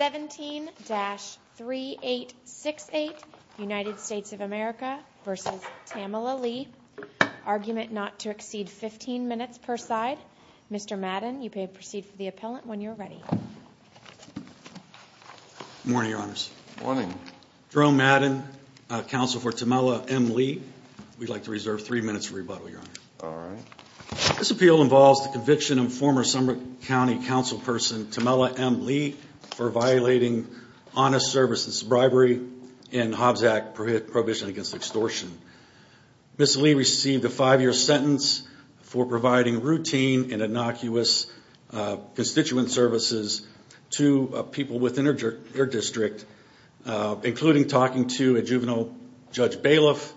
17-3868 United States of America v. Tamela Lee Argument not to exceed 15 minutes per side. Mr. Madden, you may proceed for the appellant when you're ready. Good morning, your honors. Good morning. Jerome Madden, counsel for Tamela M. Lee. We'd like to reserve three minutes for rebuttal, your honor. All right. This appeal involves the conviction of former Summit County Councilperson Tamela M. Lee for violating honest services bribery and Hobbs Act prohibition against extortion. Ms. Lee received a five-year sentence for providing routine and innocuous constituent services to people within her district, including talking to a juvenile Judge Bailiff,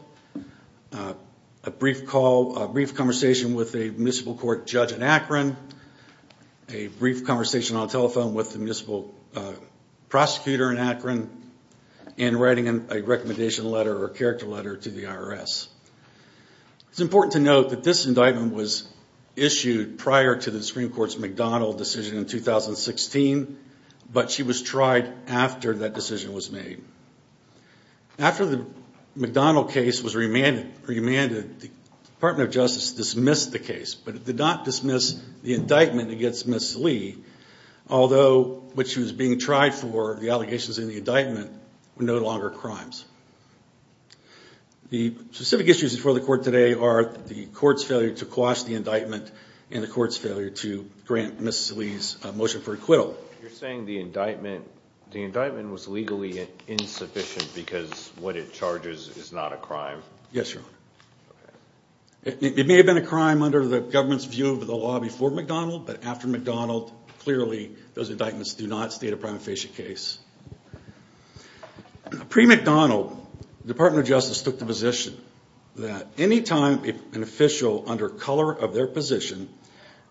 a brief call, a brief conversation with a municipal court judge in Akron, a brief conversation on the telephone with the municipal prosecutor in Akron, and writing a recommendation letter or character letter to the IRS. It's important to note that this indictment was issued prior to the Supreme Court's McDonnell decision in 2016, but she was tried after that decision was made. After the McDonnell case was remanded, the Department of Justice dismissed the case, but it did not dismiss the indictment against Ms. Lee, although what she was being tried for, the allegations in the indictment, were no longer crimes. The specific issues before the court today are the court's failure to quash the indictment and the court's failure to grant Ms. Lee's motion for acquittal. You're saying the indictment was legally insufficient because what it charges is not a crime? Yes, your honor. It may have been a crime under the government's view of the law before McDonnell, but after McDonnell, clearly those indictments do not state a prima facie case. Pre-McDonnell, the Department of Justice took the position that any time an official under color of their position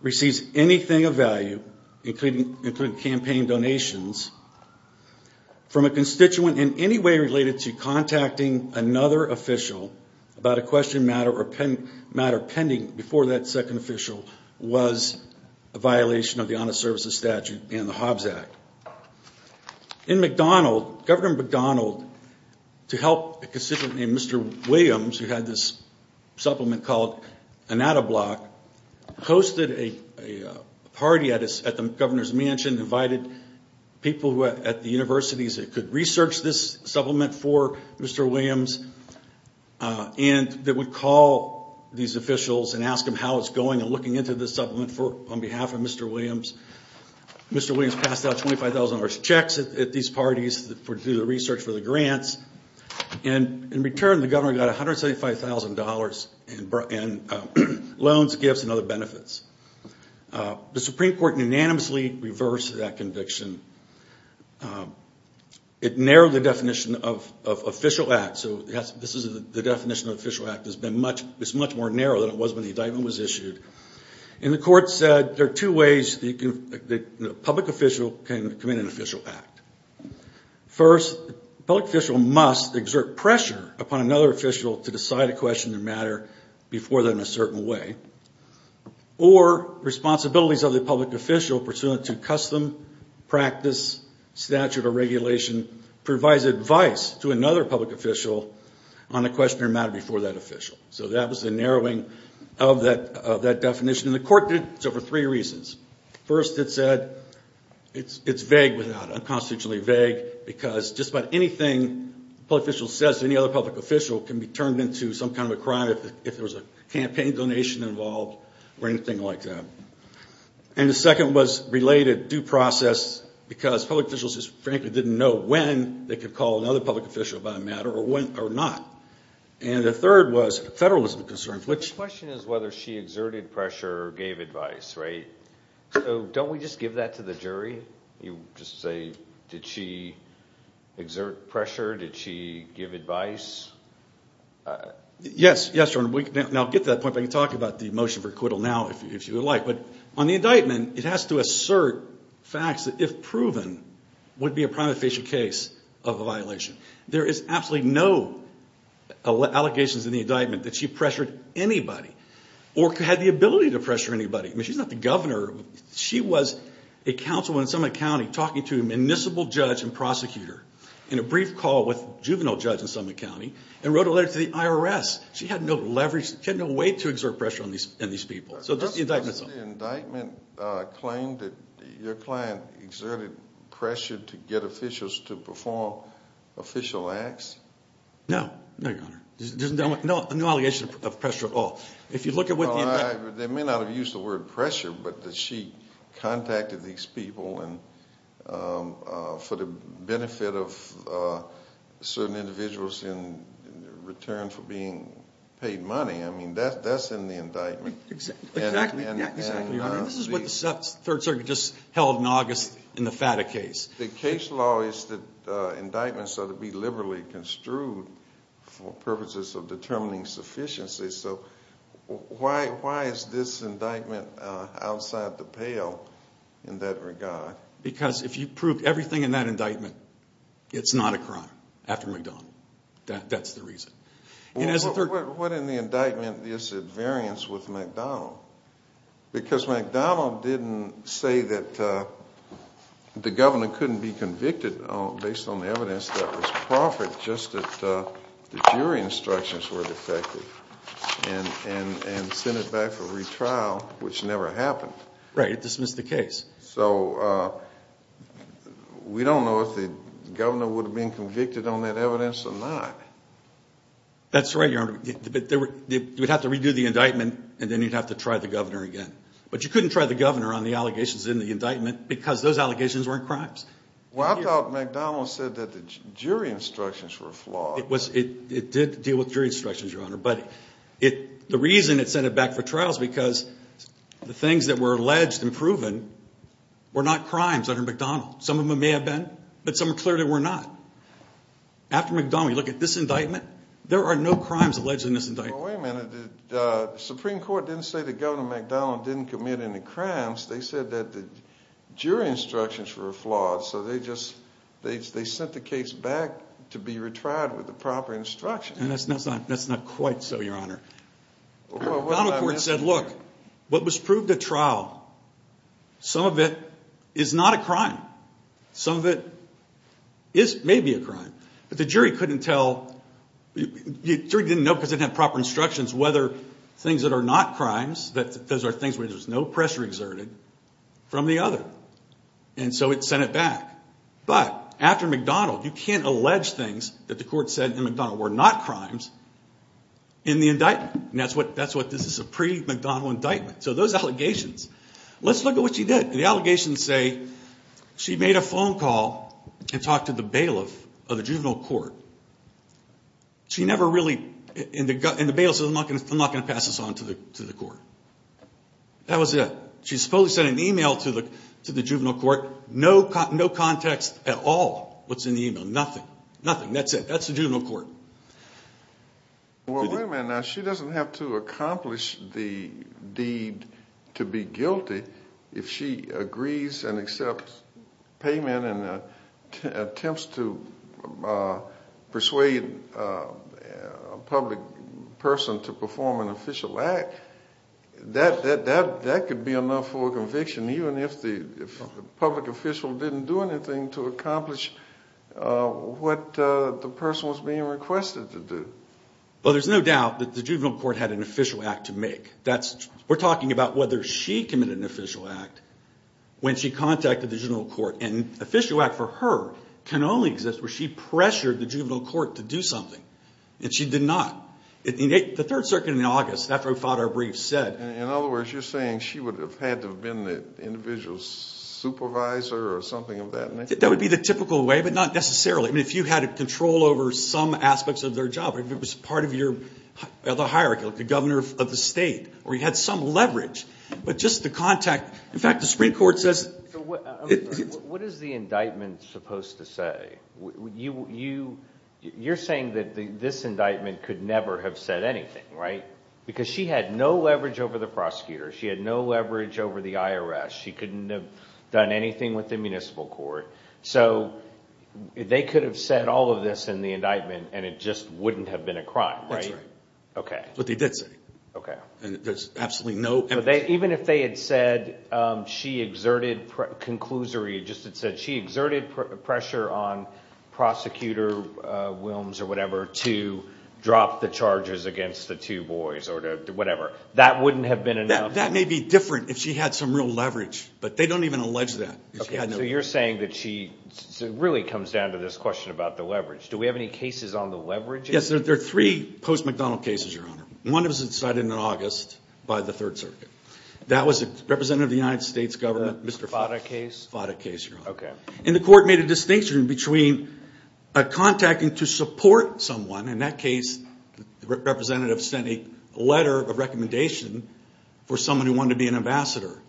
receives anything of value, including campaign donations, from a constituent in any way related to contacting another official about a question matter or a violation of the Honest Services Statute and the Hobbs Act. In McDonnell, Governor McDonnell, to help a constituent named Mr. Williams, who had this supplement called Anatta Block, hosted a party at the governor's mansion, invited people at the universities that could research this supplement for Mr. Williams, and that would call these officials and ask them how it's on behalf of Mr. Williams. Mr. Williams passed out $25,000 checks at these parties to do the research for the grants, and in return, the governor got $175,000 in loans, gifts, and other benefits. The Supreme Court unanimously reversed that conviction. It narrowed the definition of official act, so this is the definition of official act. It's much more narrow than it was when the indictment was issued, and the court said there are two ways the public official can commit an official act. First, the public official must exert pressure upon another official to decide a question or matter before them in a certain way, or responsibilities of the public official pursuant to custom practice, statute, or regulation provides advice to another public official on a question or matter before that official. So that was the narrowing of that definition, and the court did so for three reasons. First, it said it's vague without, unconstitutionally vague, because just about anything a public official says to any other public official can be turned into some kind of a crime if there was a campaign donation involved or anything like that. And the second was related due process, because public officials just frankly didn't know when they could call another public official about a matter or not. And the third was federalism concerns, which... The question is whether she exerted pressure or gave advice, right? So don't we just give that to the jury? You just say, did she exert pressure? Did she give advice? Yes, yes, your honor. We can now get to that point, but I can talk about the motion for acquittal now if you would like, but on the indictment, it has to assert facts that, if proven, would be a prima facie case of a violation. There is absolutely no allegations in the indictment that she pressured anybody or had the ability to pressure anybody. I mean, she's not the governor. She was a counsel in Summit County talking to a municipal judge and prosecutor in a brief call with a juvenile judge in Summit County and wrote a letter to the IRS. She had no leverage. She had no way to exert pressure on these people. Does the indictment claim that your client exerted pressure to get officials to perform official acts? No, no, your honor. There's no allegation of pressure at all. If you look at what... They may not have used the word pressure, but that she contacted these people for the benefit of certain individuals in return for being paid money. I mean, that's in the indictment. Exactly, your honor. This is what the Third Circuit just held in August in the FATA case. The case law is that indictments are to be liberally construed for purposes of determining sufficiency, so why is this indictment outside the pale in that regard? Because if you prove everything in that indictment, it's not a crime after McDonnell. That's the reason. What in the indictment is at variance with McDonnell? Because McDonnell didn't say that the governor couldn't be convicted based on the evidence that was proffered, just that the jury instructions were defective and sent it back for retrial, which never happened. Right, it dismissed the case. So we don't know if the governor would have been convicted on that evidence or not. That's right, your honor. You would have to redo the indictment and then you'd have to try the governor again, but you couldn't try the governor on the allegations in the indictment because those allegations weren't crimes. Well, I thought McDonnell said that the jury instructions were flawed. It did deal with jury instructions, your honor, but the reason it sent it back for trial is because the things that were alleged and proven were not crimes under McDonnell. Some of After McDonnell, you look at this indictment, there are no crimes alleged in this indictment. Well, wait a minute. The Supreme Court didn't say that Governor McDonnell didn't commit any crimes. They said that the jury instructions were flawed, so they just sent the case back to be retried with the proper instructions. And that's not quite so, your honor. McDonnell court said, look, what was proved at trial, some of it is not a crime. Some of it may be a crime, but the jury couldn't tell. The jury didn't know because they didn't have proper instructions whether things that are not crimes, those are things where there's no pressure exerted from the other, and so it sent it back. But after McDonnell, you can't allege things that the court said in McDonnell were not crimes in the indictment, and that's what this is a pre-McDonnell indictment. So those allegations, let's look at what she did. The allegations say she made a phone call and talked to the bailiff of the juvenile court. She never really, in the bail, said I'm not going to pass this on to the to the court. That was it. She supposedly sent an email to the to the juvenile court. No context at all what's in the email. Nothing. Nothing. That's it. That's the juvenile court. Well, wait a minute. Now, she doesn't have to accomplish the deed to be guilty. If she agrees and accepts payment and attempts to persuade a public person to perform an official act, that could be enough for a conviction, even if the public official didn't do anything to accomplish what the person was being requested to We're talking about whether she committed an official act when she contacted the juvenile court. An official act for her can only exist where she pressured the juvenile court to do something, and she did not. The Third Circuit in August, after we filed our brief, said... In other words, you're saying she would have had to have been the individual supervisor or something of that nature? That would be the typical way, but not necessarily. I mean, if you had control over some aspects of their job, if it was part of the hierarchy, like the governor of the state, or you had some leverage, but just the contact... In fact, the Supreme Court says... What is the indictment supposed to say? You're saying that this indictment could never have said anything, right? Because she had no leverage over the prosecutor. She had no leverage over the IRS. She couldn't have done anything with the municipal court. So, they could have said all of this in the indictment, and it just wouldn't have been a crime, right? Okay. What they did say. Okay. And there's absolutely no... Even if they had said she exerted... Conclusory, just it said she exerted pressure on prosecutor Wilms or whatever to drop the charges against the two boys or whatever, that wouldn't have been enough? That may be different if she had some real leverage, but they don't even allege that. Okay, so you're saying that she... It really comes down to this question about the leverage. Do we have any cases on the leverage? Yes, there are three post-McDonnell cases, Your Honor. One was decided in August by the Third Circuit. That was a representative of the United States government, Mr. Fata case. Fata case, Your Honor. Okay. And the court made a distinction between contacting to support someone. In that case, the representative sent a letter of recommendation for someone who wanted to be an ambassador.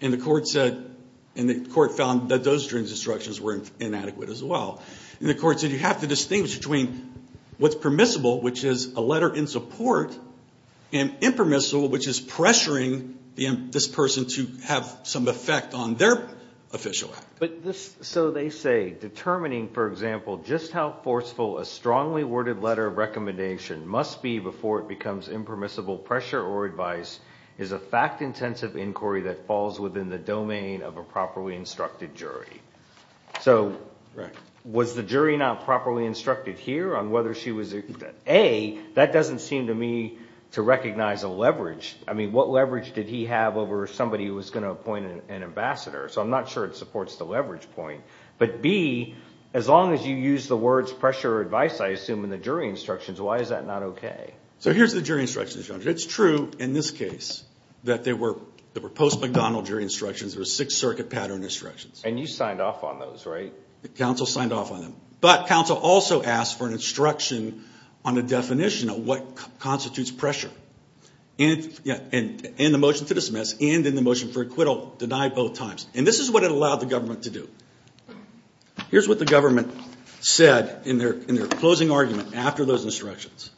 And the court said... And the court found that those instructions were inadequate as well. And the court said you have to distinguish between what's permissible, which is a letter in support, and impermissible, which is pressuring this person to have some effect on their official act. But this... So they say, determining, for example, just how forceful a strongly worded letter of recommendation must be before it becomes impermissible pressure or advice is a fact-intensive inquiry that falls within the domain of a properly instructed jury. So was the jury not properly instructed here on whether she was... A, that doesn't seem to me to recognize a leverage. I mean, what leverage did he have over somebody who was going to appoint an ambassador? So I'm not sure it supports the leverage point. But B, as long as you use the words pressure or advice, I assume, in the jury instructions, why is that not okay? So here's the jury instructions, Your Honor. It's true in this case that there were post-McDonnell jury instructions. There were Sixth Circuit pattern instructions. And you signed off on those, right? The counsel signed off on them. But counsel also asked for an instruction on the definition of what constitutes pressure. And, yeah, and in the motion to dismiss and in the motion for acquittal, denied both times. And this is what it allowed the government to do. Here's what the government said in their closing argument after those instructions.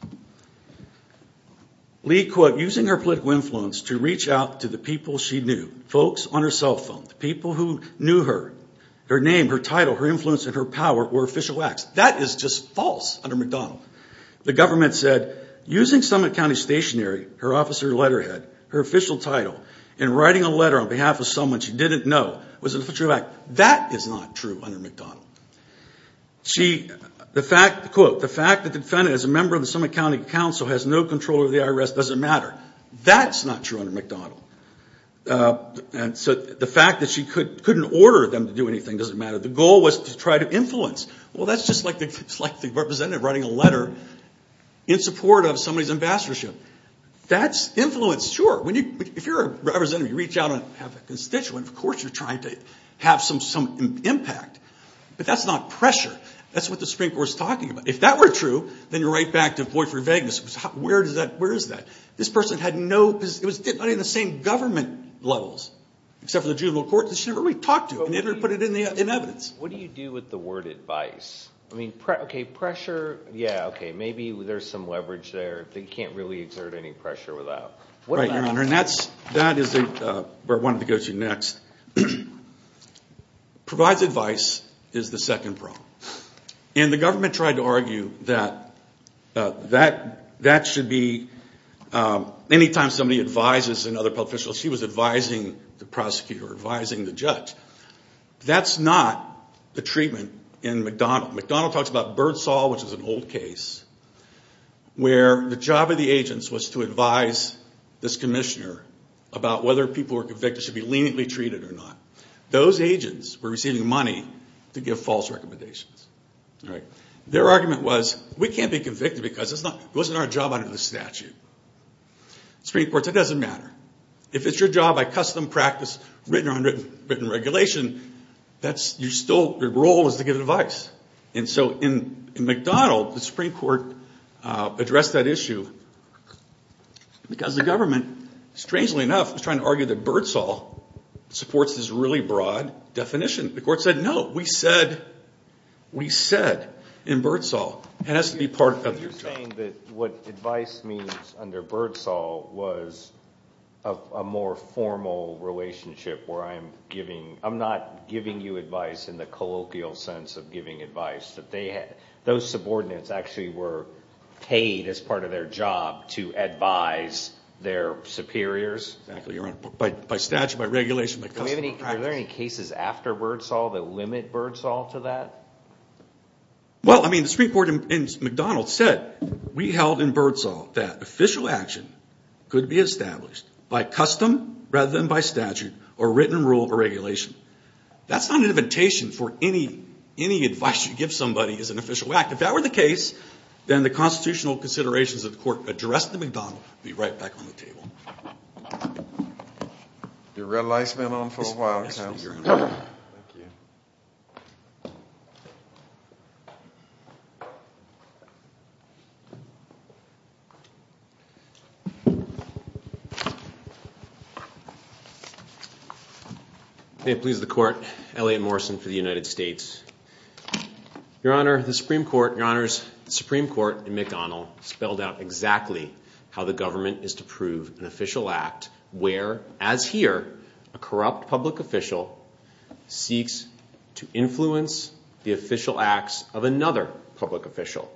Lee, quote, using her political influence to reach out to the her. Her name, her title, her influence, and her power were official acts. That is just false under McDonnell. The government said, using Summit County stationery, her officer letterhead, her official title, and writing a letter on behalf of someone she didn't know was an official act. That is not true under McDonnell. She, the fact, quote, the fact that the defendant is a member of the Summit County Council, has no control over the IRS, doesn't matter. That's not true under McDonnell. And so the fact that she couldn't order them to do anything doesn't matter. The goal was to try to influence. Well, that's just like the representative writing a letter in support of somebody's ambassadorship. That's influence, sure. If you're a representative, you reach out and have a constituent, of course you're trying to have some impact. But that's not pressure. That's what the Supreme Court was talking about. If that were true, then you're right back to boyfriend vagueness. Where is that? This person had not even the same government levels, except for the juvenile court, that she never really talked to. And they never put it in the evidence. What do you do with the word advice? I mean, okay, pressure, yeah, okay, maybe there's some leverage there that you can't really exert any pressure without. Right, Your Honor, and that is where I wanted to go to next. Provides advice is the second problem. And the government tried to argue that that should be, anytime somebody advises another public official, she was advising the prosecutor, advising the judge. That's not the treatment in McDonald. McDonald talks about Birdsaw, which is an old case, where the job of the agents was to advise this commissioner about whether people who were convicted should be leniently treated or not. Those agents were receiving money to give false recommendations. Their argument was, we can't be convicted because it wasn't our job under the statute. Supreme Court, that doesn't matter. If it's your job, I custom practice written or unwritten regulation, your role is to give advice. And so in McDonald, the Supreme Court addressed that issue because the government, strangely enough, was trying to argue that Birdsaw supports this really broad definition. The court said, no, we said in Birdsaw, it has to be part of your job. You're saying that what advice means under Birdsaw was a more formal relationship where I'm not giving you advice in the colloquial sense of giving advice, that those subordinates actually were paid as part of their job to advise their superiors? Exactly, Your Honor. By statute, by regulation, by practice. Are there any cases after Birdsaw that limit Birdsaw to that? Well, I mean, the Supreme Court in McDonald said, we held in Birdsaw that official action could be established by custom rather than by statute or written rule or regulation. That's not an invitation for any advice you give somebody as an official act. If that were the case, then the constitutional considerations of the Your red light's been on for a while, Your Honor. May it please the Court, Elliot Morrison for the United States. Your Honor, the Supreme Court, Your Honors, the Supreme Court in McDonald spelled out exactly how the where, as here, a corrupt public official seeks to influence the official acts of another public official.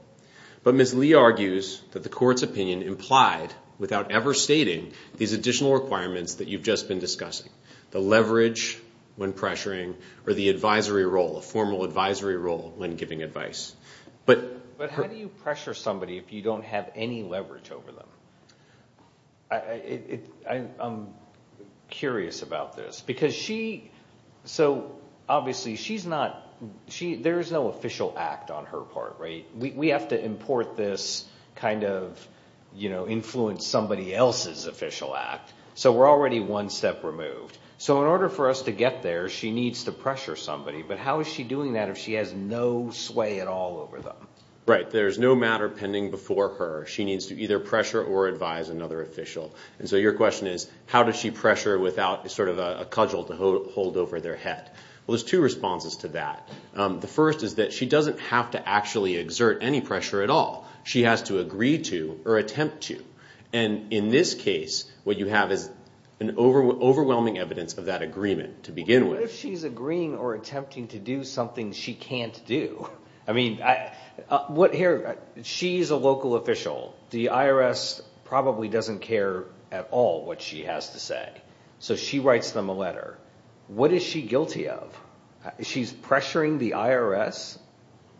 But Ms. Lee argues that the Court's opinion implied without ever stating these additional requirements that you've just been discussing. The leverage when pressuring or the advisory role, a formal advisory role when giving advice. But how do you pressure somebody if you don't have any I'm curious about this because she, so obviously she's not, there is no official act on her part, right? We have to import this kind of, you know, influence somebody else's official act. So we're already one step removed. So in order for us to get there, she needs to pressure somebody. But how is she doing that if she has no sway at all over them? Right. There's no matter pending before her. She needs to either So your question is, how does she pressure without sort of a cudgel to hold over their head? Well, there's two responses to that. The first is that she doesn't have to actually exert any pressure at all. She has to agree to or attempt to. And in this case, what you have is an overwhelming evidence of that agreement to begin with. What if she's agreeing or attempting to do something she can't do? I mean, what here, she's a local official. The IRS probably doesn't care at all what she has to say. So she writes them a letter. What is she guilty of? She's pressuring the IRS.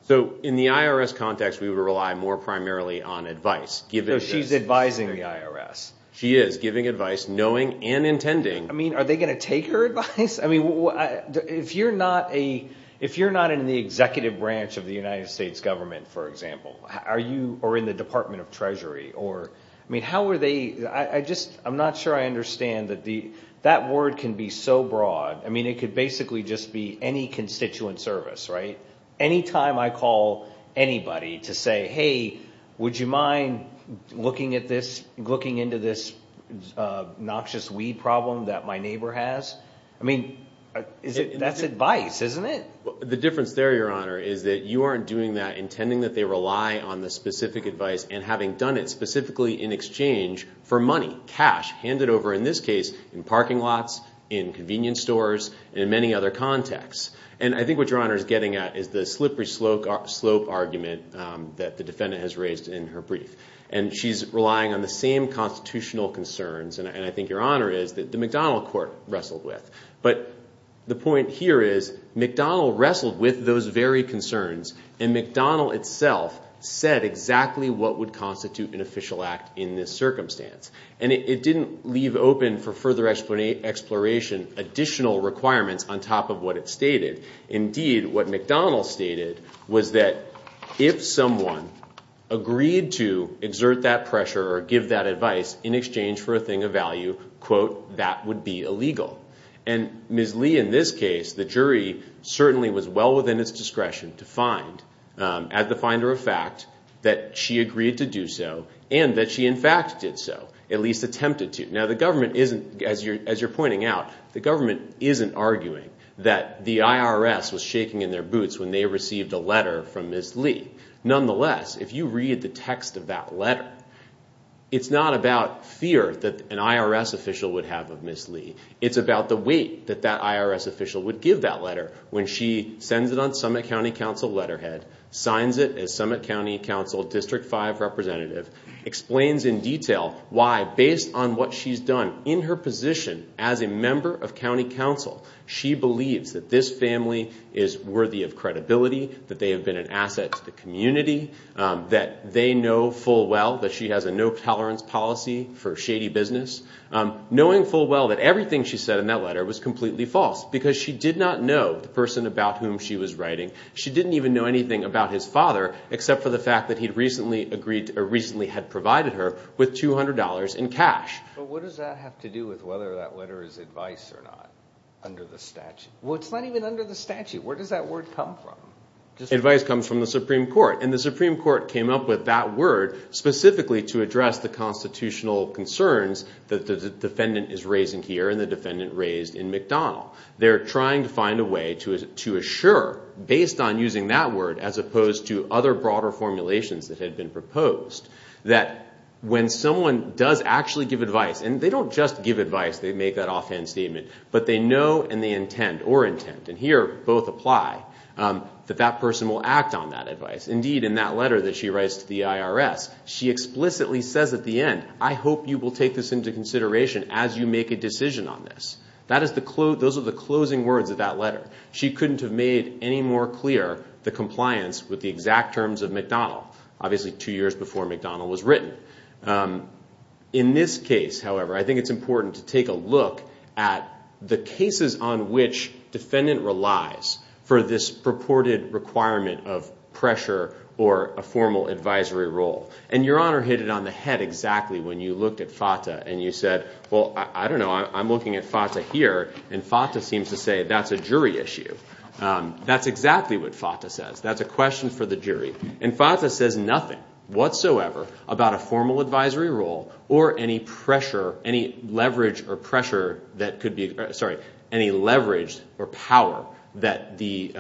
So in the IRS context, we would rely more primarily on advice. She's advising the IRS. She is giving advice, knowing and intending. I mean, are they going to take her advice? If you're not in the executive branch of the United States government, for example, are you in the Department of Treasury? I'm not sure I understand that word can be so broad. I mean, it could basically just be any constituent service, right? Anytime I call anybody to say, hey, would you mind looking into this noxious weed problem that my neighbor has? That's advice, isn't it? The difference there, Your Honor, is that you aren't doing that intending that they rely on the specific advice and having done it specifically in exchange for money, cash handed over, in this case, in parking lots, in convenience stores, and in many other contexts. And I think what Your Honor is getting at is the slippery slope argument that the defendant has raised in her brief. And she's relying on the same constitutional concerns, and I think Your Honor is, that the McDonnell court wrestled with. But the point here is McDonnell wrestled with those very concerns, and McDonnell itself said exactly what would constitute an official act in this circumstance. And it didn't leave open for further exploration additional requirements on top of what it stated. Indeed, what McDonnell stated was that if someone agreed to exert that pressure or give that advice in exchange for a thing of value, quote, that would be illegal. And Ms. Lee, in this case, the jury certainly was well within its discretion to find, as the finder of fact, that she agreed to do so and that she, in fact, did so, at least attempted to. Now, the government isn't, as you're pointing out, the government was shaking in their boots when they received a letter from Ms. Lee. Nonetheless, if you read the text of that letter, it's not about fear that an IRS official would have of Ms. Lee. It's about the weight that that IRS official would give that letter when she sends it on Summit County Council letterhead, signs it as Summit County Council District 5 representative, explains in detail why, based on what she's done in her position as a member of County Council, she believes that this family is worthy of credibility, that they have been an asset to the community, that they know full well that she has a no tolerance policy for shady business. Knowing full well that everything she said in that letter was completely false, because she did not know the person about whom she was writing. She didn't even know anything about his father, except for the fact that he'd recently agreed or recently had provided her with $200 in cash. But what does that have to do with whether that letter is advice or not under the statute? Well, it's not even under the statute. Where does that word come from? Advice comes from the Supreme Court, and the Supreme Court came up with that word specifically to address the constitutional concerns that the defendant is raising here and the defendant raised in McDonnell. They're trying to find a way to assure, based on using that word as opposed to other broader formulations that had been proposed, that when someone does actually give advice, and they don't just give advice, they make that offhand statement, but they know and they intend or intent, and here both apply, that that person will act on that advice. Indeed, in that letter that she writes to the IRS, she explicitly says at the end, I hope you will take this into consideration as you make a decision on this. Those are the closing words of that letter. She couldn't have made any more clear the compliance with the exact terms of McDonnell, obviously two years before McDonnell was written. In this case, however, I think it's important to take a look at the cases on which defendant relies for this purported requirement of pressure or a formal advisory role. And Your Honor hit it on the head exactly when you looked at FATA and you said, well, I don't know, I'm looking at FATA here, and FATA seems to say that's a jury issue. That's exactly what FATA says. That's a question for the jury. And FATA says nothing whatsoever about a formal advisory role or any pressure, any leverage or pressure that could be, sorry, any leverage or power that the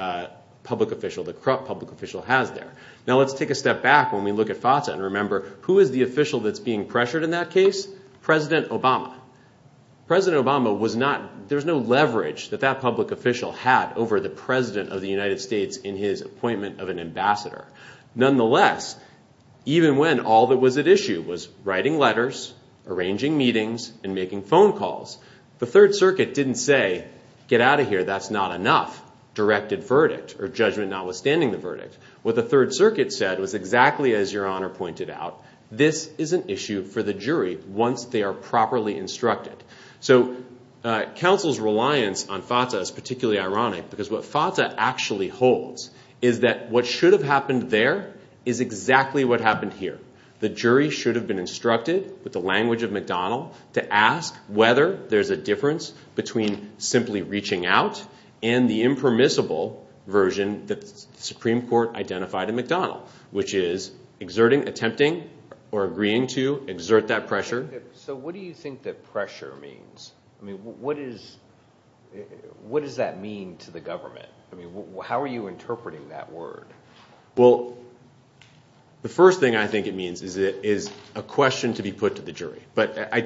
public official, the corrupt public official has there. Now let's take a step back when we look at FATA and remember, who is the official that's being pressured in that case? President Obama. President Obama was not, there's no leverage that that the president of the United States in his appointment of an ambassador. Nonetheless, even when all that was at issue was writing letters, arranging meetings, and making phone calls, the Third Circuit didn't say, get out of here, that's not enough, directed verdict or judgment notwithstanding the verdict. What the Third Circuit said was exactly as Your Honor pointed out, this is an issue for the jury once they are properly instructed. So counsel's reliance on FATA is particularly ironic because what FATA actually holds is that what should have happened there is exactly what happened here. The jury should have been instructed with the language of McDonnell to ask whether there's a difference between simply reaching out and the impermissible version that the Supreme Court identified in McDonnell, which is exerting, attempting, or agreeing to exert that pressure. So what do you think that pressure means? I mean, what is, what does that mean to the government? I mean, how are you interpreting that word? Well, the first thing I think it means is it is a question to be put to the jury, but I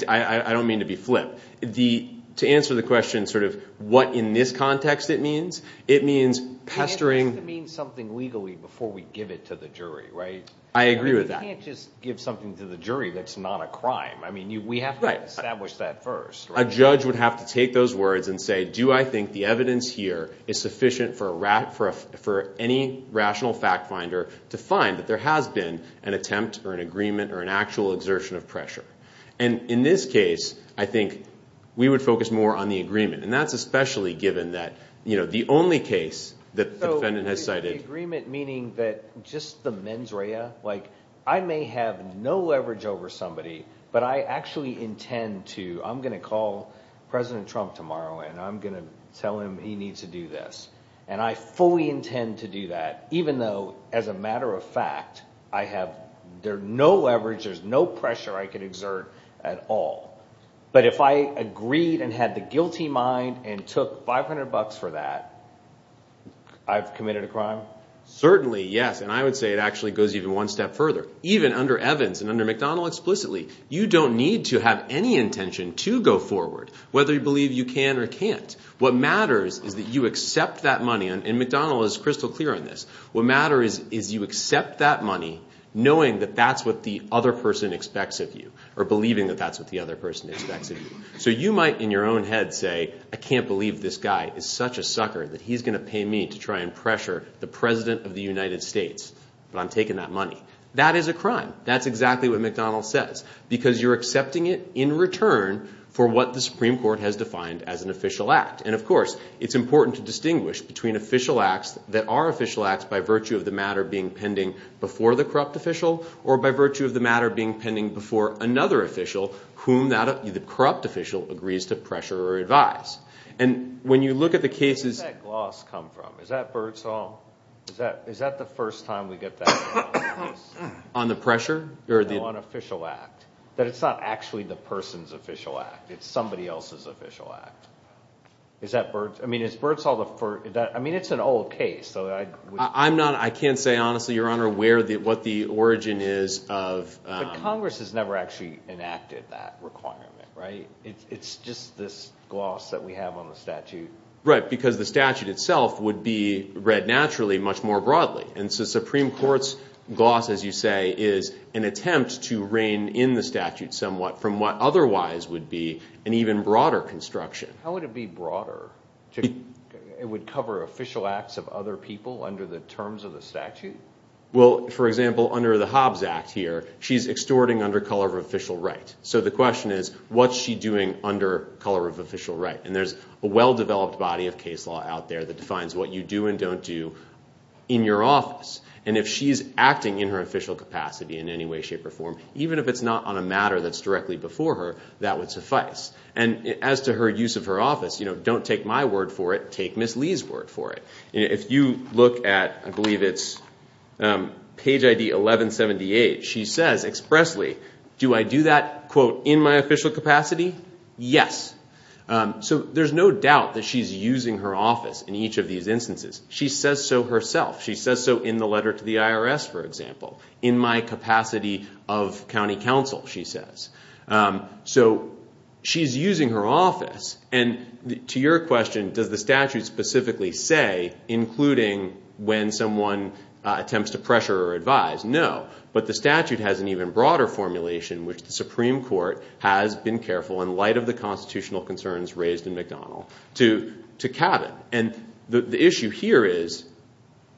don't mean to be flip. The, to answer the question sort of what in this context it means, it means pestering. It means something legally before we give it to the jury, right? I agree with that. You can't just give something to the jury that's not a crime. I mean, we have to establish that first. A judge would have to take those words and say, do I think the evidence here is sufficient for any rational fact finder to find that there has been an attempt or an agreement or an actual exertion of pressure? And in this case, I think we would focus more on the agreement. And that's especially given that, you know, the only case that the defendant has cited. So agreement meaning that just the mens rea, like I may have no leverage over somebody, but I actually intend to, I'm going to call president Trump tomorrow and I'm going to tell him he needs to do this. And I fully intend to do that, even though as a matter of fact, I have, there no leverage, there's no pressure I could exert at all. But if I agreed and had the guilty mind and took 500 bucks for that, I've committed a crime. Certainly. Yes. And I would say it actually goes even one step further, even under Evans and under McDonald explicitly, you don't need to have any intention to go forward, whether you believe you can or can't. What matters is that you accept that money. And McDonald is crystal clear on this. What matters is you accept that money knowing that that's what the other person expects of you or believing that that's what the other person expects of you. So you might in your own head say, I can't believe this guy is such a sucker that he's going to pay me to try and pressure the president of the United States, but I'm taking that money. That is a crime. That's exactly what McDonald says, because you're accepting it in return for what the Supreme Court has defined as an official act. And of course, it's important to distinguish between official acts that are official acts by virtue of the matter being pending before the corrupt official or by virtue of the matter being pending before another official, whom the corrupt official agrees to pressure or advise. And when you look at the cases... Where did that gloss come from? On the pressure? No, on official act. That it's not actually the person's official act, it's somebody else's official act. I mean, it's an old case. I can't say honestly, Your Honor, what the origin is of... But Congress has never actually enacted that requirement, right? It's just this gloss that we have on the statute. Right. Because the statute itself would be read naturally much more broadly. And so Supreme Court's gloss, as you say, is an attempt to rein in the statute somewhat from what otherwise would be an even broader construction. How would it be broader? It would cover official acts of other people under the terms of the statute? Well, for example, under the Hobbs Act here, she's extorting under color of official right. So the question is, what's she doing under color of official right? And there's a well-developed case law out there that defines what you do and don't do in your office. And if she's acting in her official capacity in any way, shape, or form, even if it's not on a matter that's directly before her, that would suffice. And as to her use of her office, don't take my word for it, take Ms. Lee's word for it. If you look at, I believe it's page ID 1178, she says expressly, do I do that, quote, in my official capacity? Yes. So there's no doubt that she's using her office in each of these instances. She says so herself. She says so in the letter to the IRS, for example, in my capacity of county counsel, she says. So she's using her office. And to your question, does the statute specifically say, including when someone attempts to pressure or which the Supreme Court has been careful in light of the constitutional concerns raised in McDonald to cabin? And the issue here is,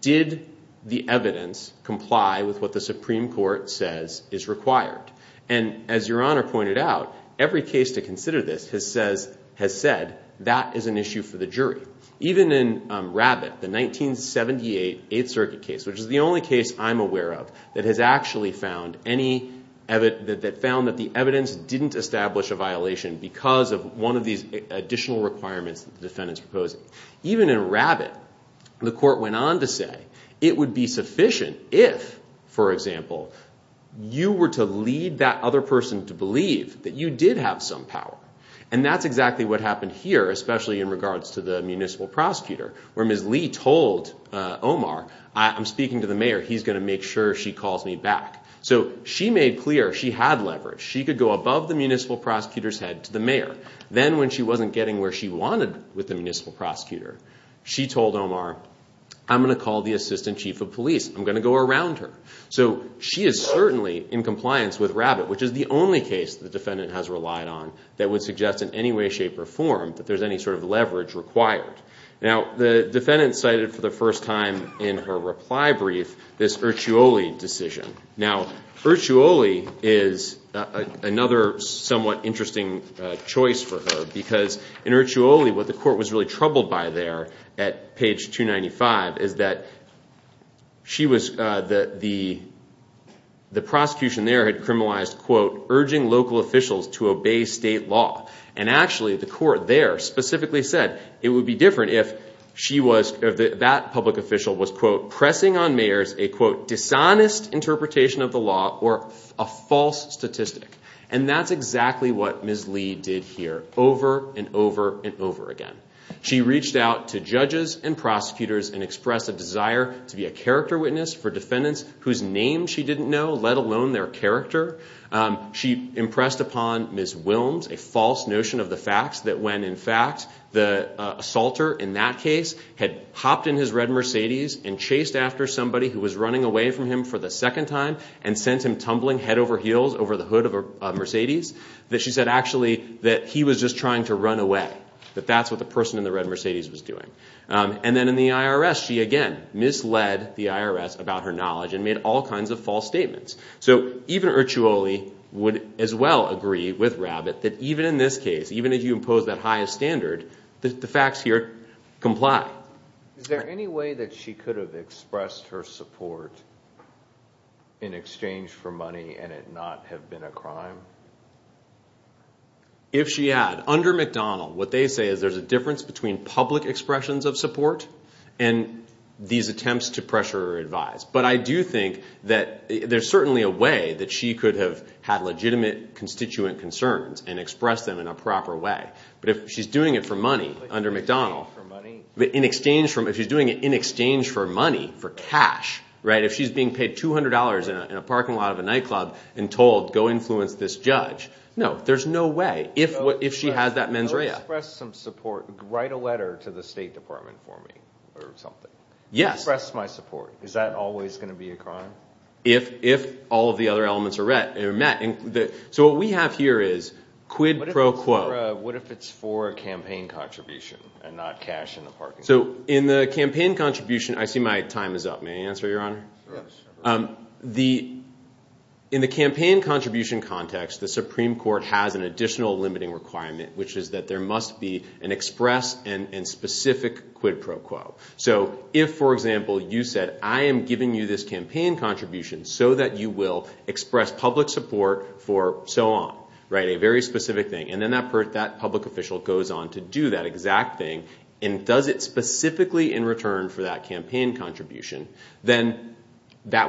did the evidence comply with what the Supreme Court says is required? And as your honor pointed out, every case to consider this has said that is an issue for the jury. Even in Rabbit, the 1978 Eighth Circuit case, which is the only case I'm aware of that has actually found any, that found that the evidence didn't establish a violation because of one of these additional requirements the defendant's proposing. Even in Rabbit, the court went on to say it would be sufficient if, for example, you were to lead that other person to believe that you did have some power. And that's exactly what happened here, especially in regards to the municipal prosecutor, where Ms. Lee told Omar, I'm speaking to the mayor, he's going to make sure she calls me back. So she made clear she had leverage. She could go above the municipal prosecutor's head to the mayor. Then when she wasn't getting where she wanted with the municipal prosecutor, she told Omar, I'm going to call the assistant chief of police. I'm going to go around her. So she is certainly in compliance with Rabbit, which is the only case the defendant has relied on that would suggest in any way, shape, or form that there's any sort of this Ercioli decision. Now, Ercioli is another somewhat interesting choice for her. Because in Ercioli, what the court was really troubled by there at page 295 is that she was, that the prosecution there had criminalized, quote, urging local officials to obey state law. And actually, the court there specifically said it would be different if she was, that public official was, quote, pressing on mayors a, quote, dishonest interpretation of the law or a false statistic. And that's exactly what Ms. Lee did here, over and over and over again. She reached out to judges and prosecutors and expressed a desire to be a character witness for defendants whose names she didn't know, let alone their character. She impressed upon Ms. Wilms a false notion of the facts that when, in fact, the assaulter in that case had hopped in his red Mercedes and chased after somebody who was running away from him for the second time and sent him tumbling head over heels over the hood of a Mercedes, that she said, actually, that he was just trying to run away. That that's what the person in the red Mercedes was doing. And then in the IRS, she again misled the IRS about her knowledge and made all kinds of false statements. So even Ercioli would as well agree with Rabbitt that even in this case, even if you impose that highest standard, that the facts here comply. Is there any way that she could have expressed her support in exchange for money and it not have been a crime? If she had, under McDonald, what they say is there's a difference between public expressions of support and these attempts to pressure or advise. But I do think that there's certainly a way that she could have had legitimate constituent concerns and express them in a proper way. But if she's doing it for money under McDonald, in exchange for money, for cash, right? If she's being paid $200 in a parking lot of a nightclub and told, go influence this judge. No, there's no if she has that mens rea. Express some support, write a letter to the state department for me or something. Yes. Express my support. Is that always going to be a crime? If all of the other elements are met. So what we have here is quid pro quo. What if it's for a campaign contribution and not cash in the parking lot? So in the campaign contribution, I see my time is up. May I answer your honor? Yes. In the campaign contribution context, the Supreme Court has an additional limiting requirement, which is that there must be an express and specific quid pro quo. So if, for example, you said, I am giving you this campaign contribution so that you will express public support for so on, right? A very specific thing. And then that public official goes on to do that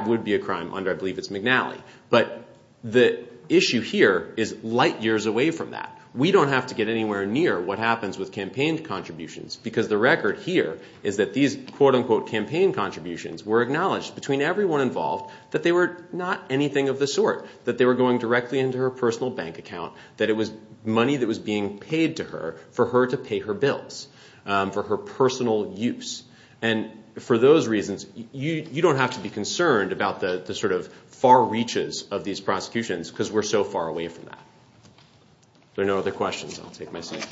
would be a crime under, I believe it's McNally. But the issue here is light years away from that. We don't have to get anywhere near what happens with campaign contributions because the record here is that these quote unquote campaign contributions were acknowledged between everyone involved, that they were not anything of the sort, that they were going directly into her personal bank account, that it was money that was being paid to her for her to pay her bills for her personal use. And for those reasons, you don't have to be concerned about the sort of far reaches of these prosecutions because we're so far away from that. There are no other questions. I'll take my seat.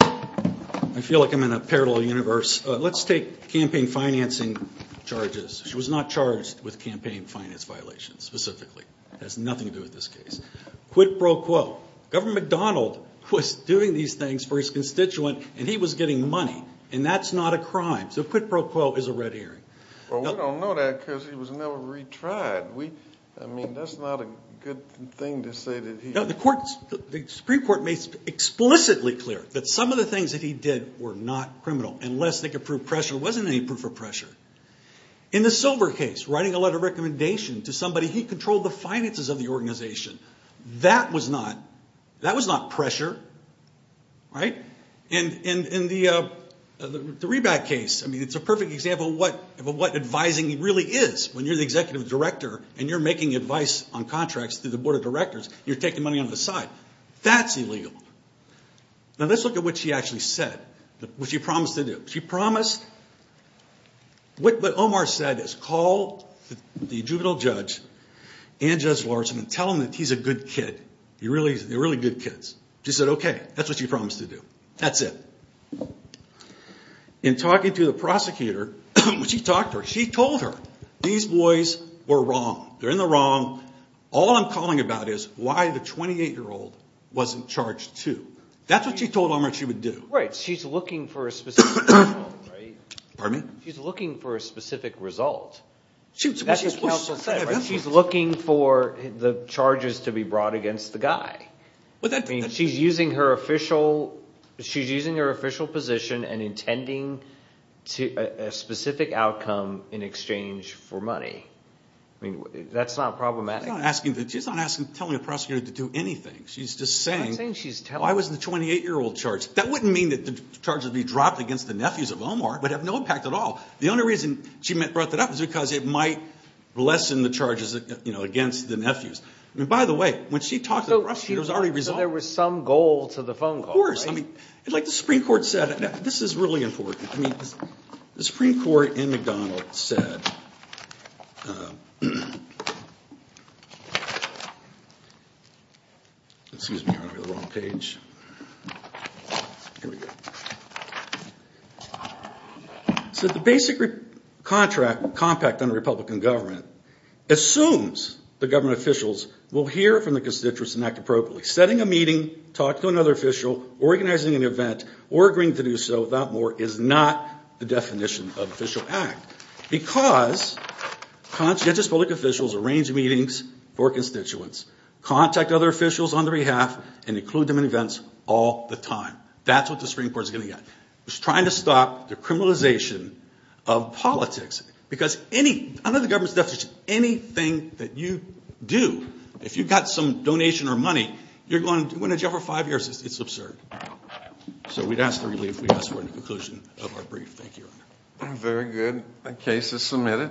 I feel like I'm in a parallel universe. Let's take campaign financing charges. She was not charged with campaign finance violations specifically. It has nothing to do with this case. Quid pro quo. Governor McDonald was doing these things for his constituent and he was getting money. And that's not a crime. So quid pro quo is a red herring. Well, we don't know that because he was never retried. I mean, that's not a good thing to say. The Supreme Court made explicitly clear that some of the things that he did were not criminal unless they could prove pressure. There wasn't any proof of pressure. In the Silver case, writing a letter of recommendation to somebody, he controlled the finances of the organization. That was not pressure. In the Reback case, it's a perfect example of what advising really is when you're the executive director and you're making advice on contracts through the board of directors and you're taking money on the side. That's illegal. Now let's look at what she actually said, what she promised to do. What Omar said is call the juvenile judge and Judge Larson and tell them that he's a good kid. They're really good kids. She said, okay. That's what she promised to do. That's it. In talking to the prosecutor, when she talked to her, she told her, these boys were wrong. They're in the wrong. All I'm calling about is why the 28-year-old wasn't charged too. That's what she told Omar she would do. Right. She's looking for a specific result. She's looking for the charges to be brought against the guy. She's using her official position and intending a specific outcome in exchange for money. That's not problematic. She's not asking, telling a prosecutor to do anything. She's just saying, I was in the 28-year-old charge. That wouldn't mean that the charges would be dropped against the nephews of Omar, but have no impact at all. The only reason she brought that up is because it might lessen the charges against the nephews. By the way, when she talked to the prosecutor, it was already resolved. There was some goal to the phone call. Of course. Like the Supreme Court. Excuse me, I went over the wrong page. Here we go. So the basic contract compact on a Republican government assumes the government officials will hear from the constituents and act appropriately. Setting a meeting, talk to another official, organizing an event, or agreeing to do so without more is not the for constituents. Contact other officials on their behalf and include them in events all the time. That's what the Supreme Court is going to get. It's trying to stop the criminalization of politics. Because under the government's definition, anything that you do, if you've got some donation or money, you're going to do it for five years. It's absurd. So we'd ask for the conclusion of our brief. Thank you. Very good. The case is submitted.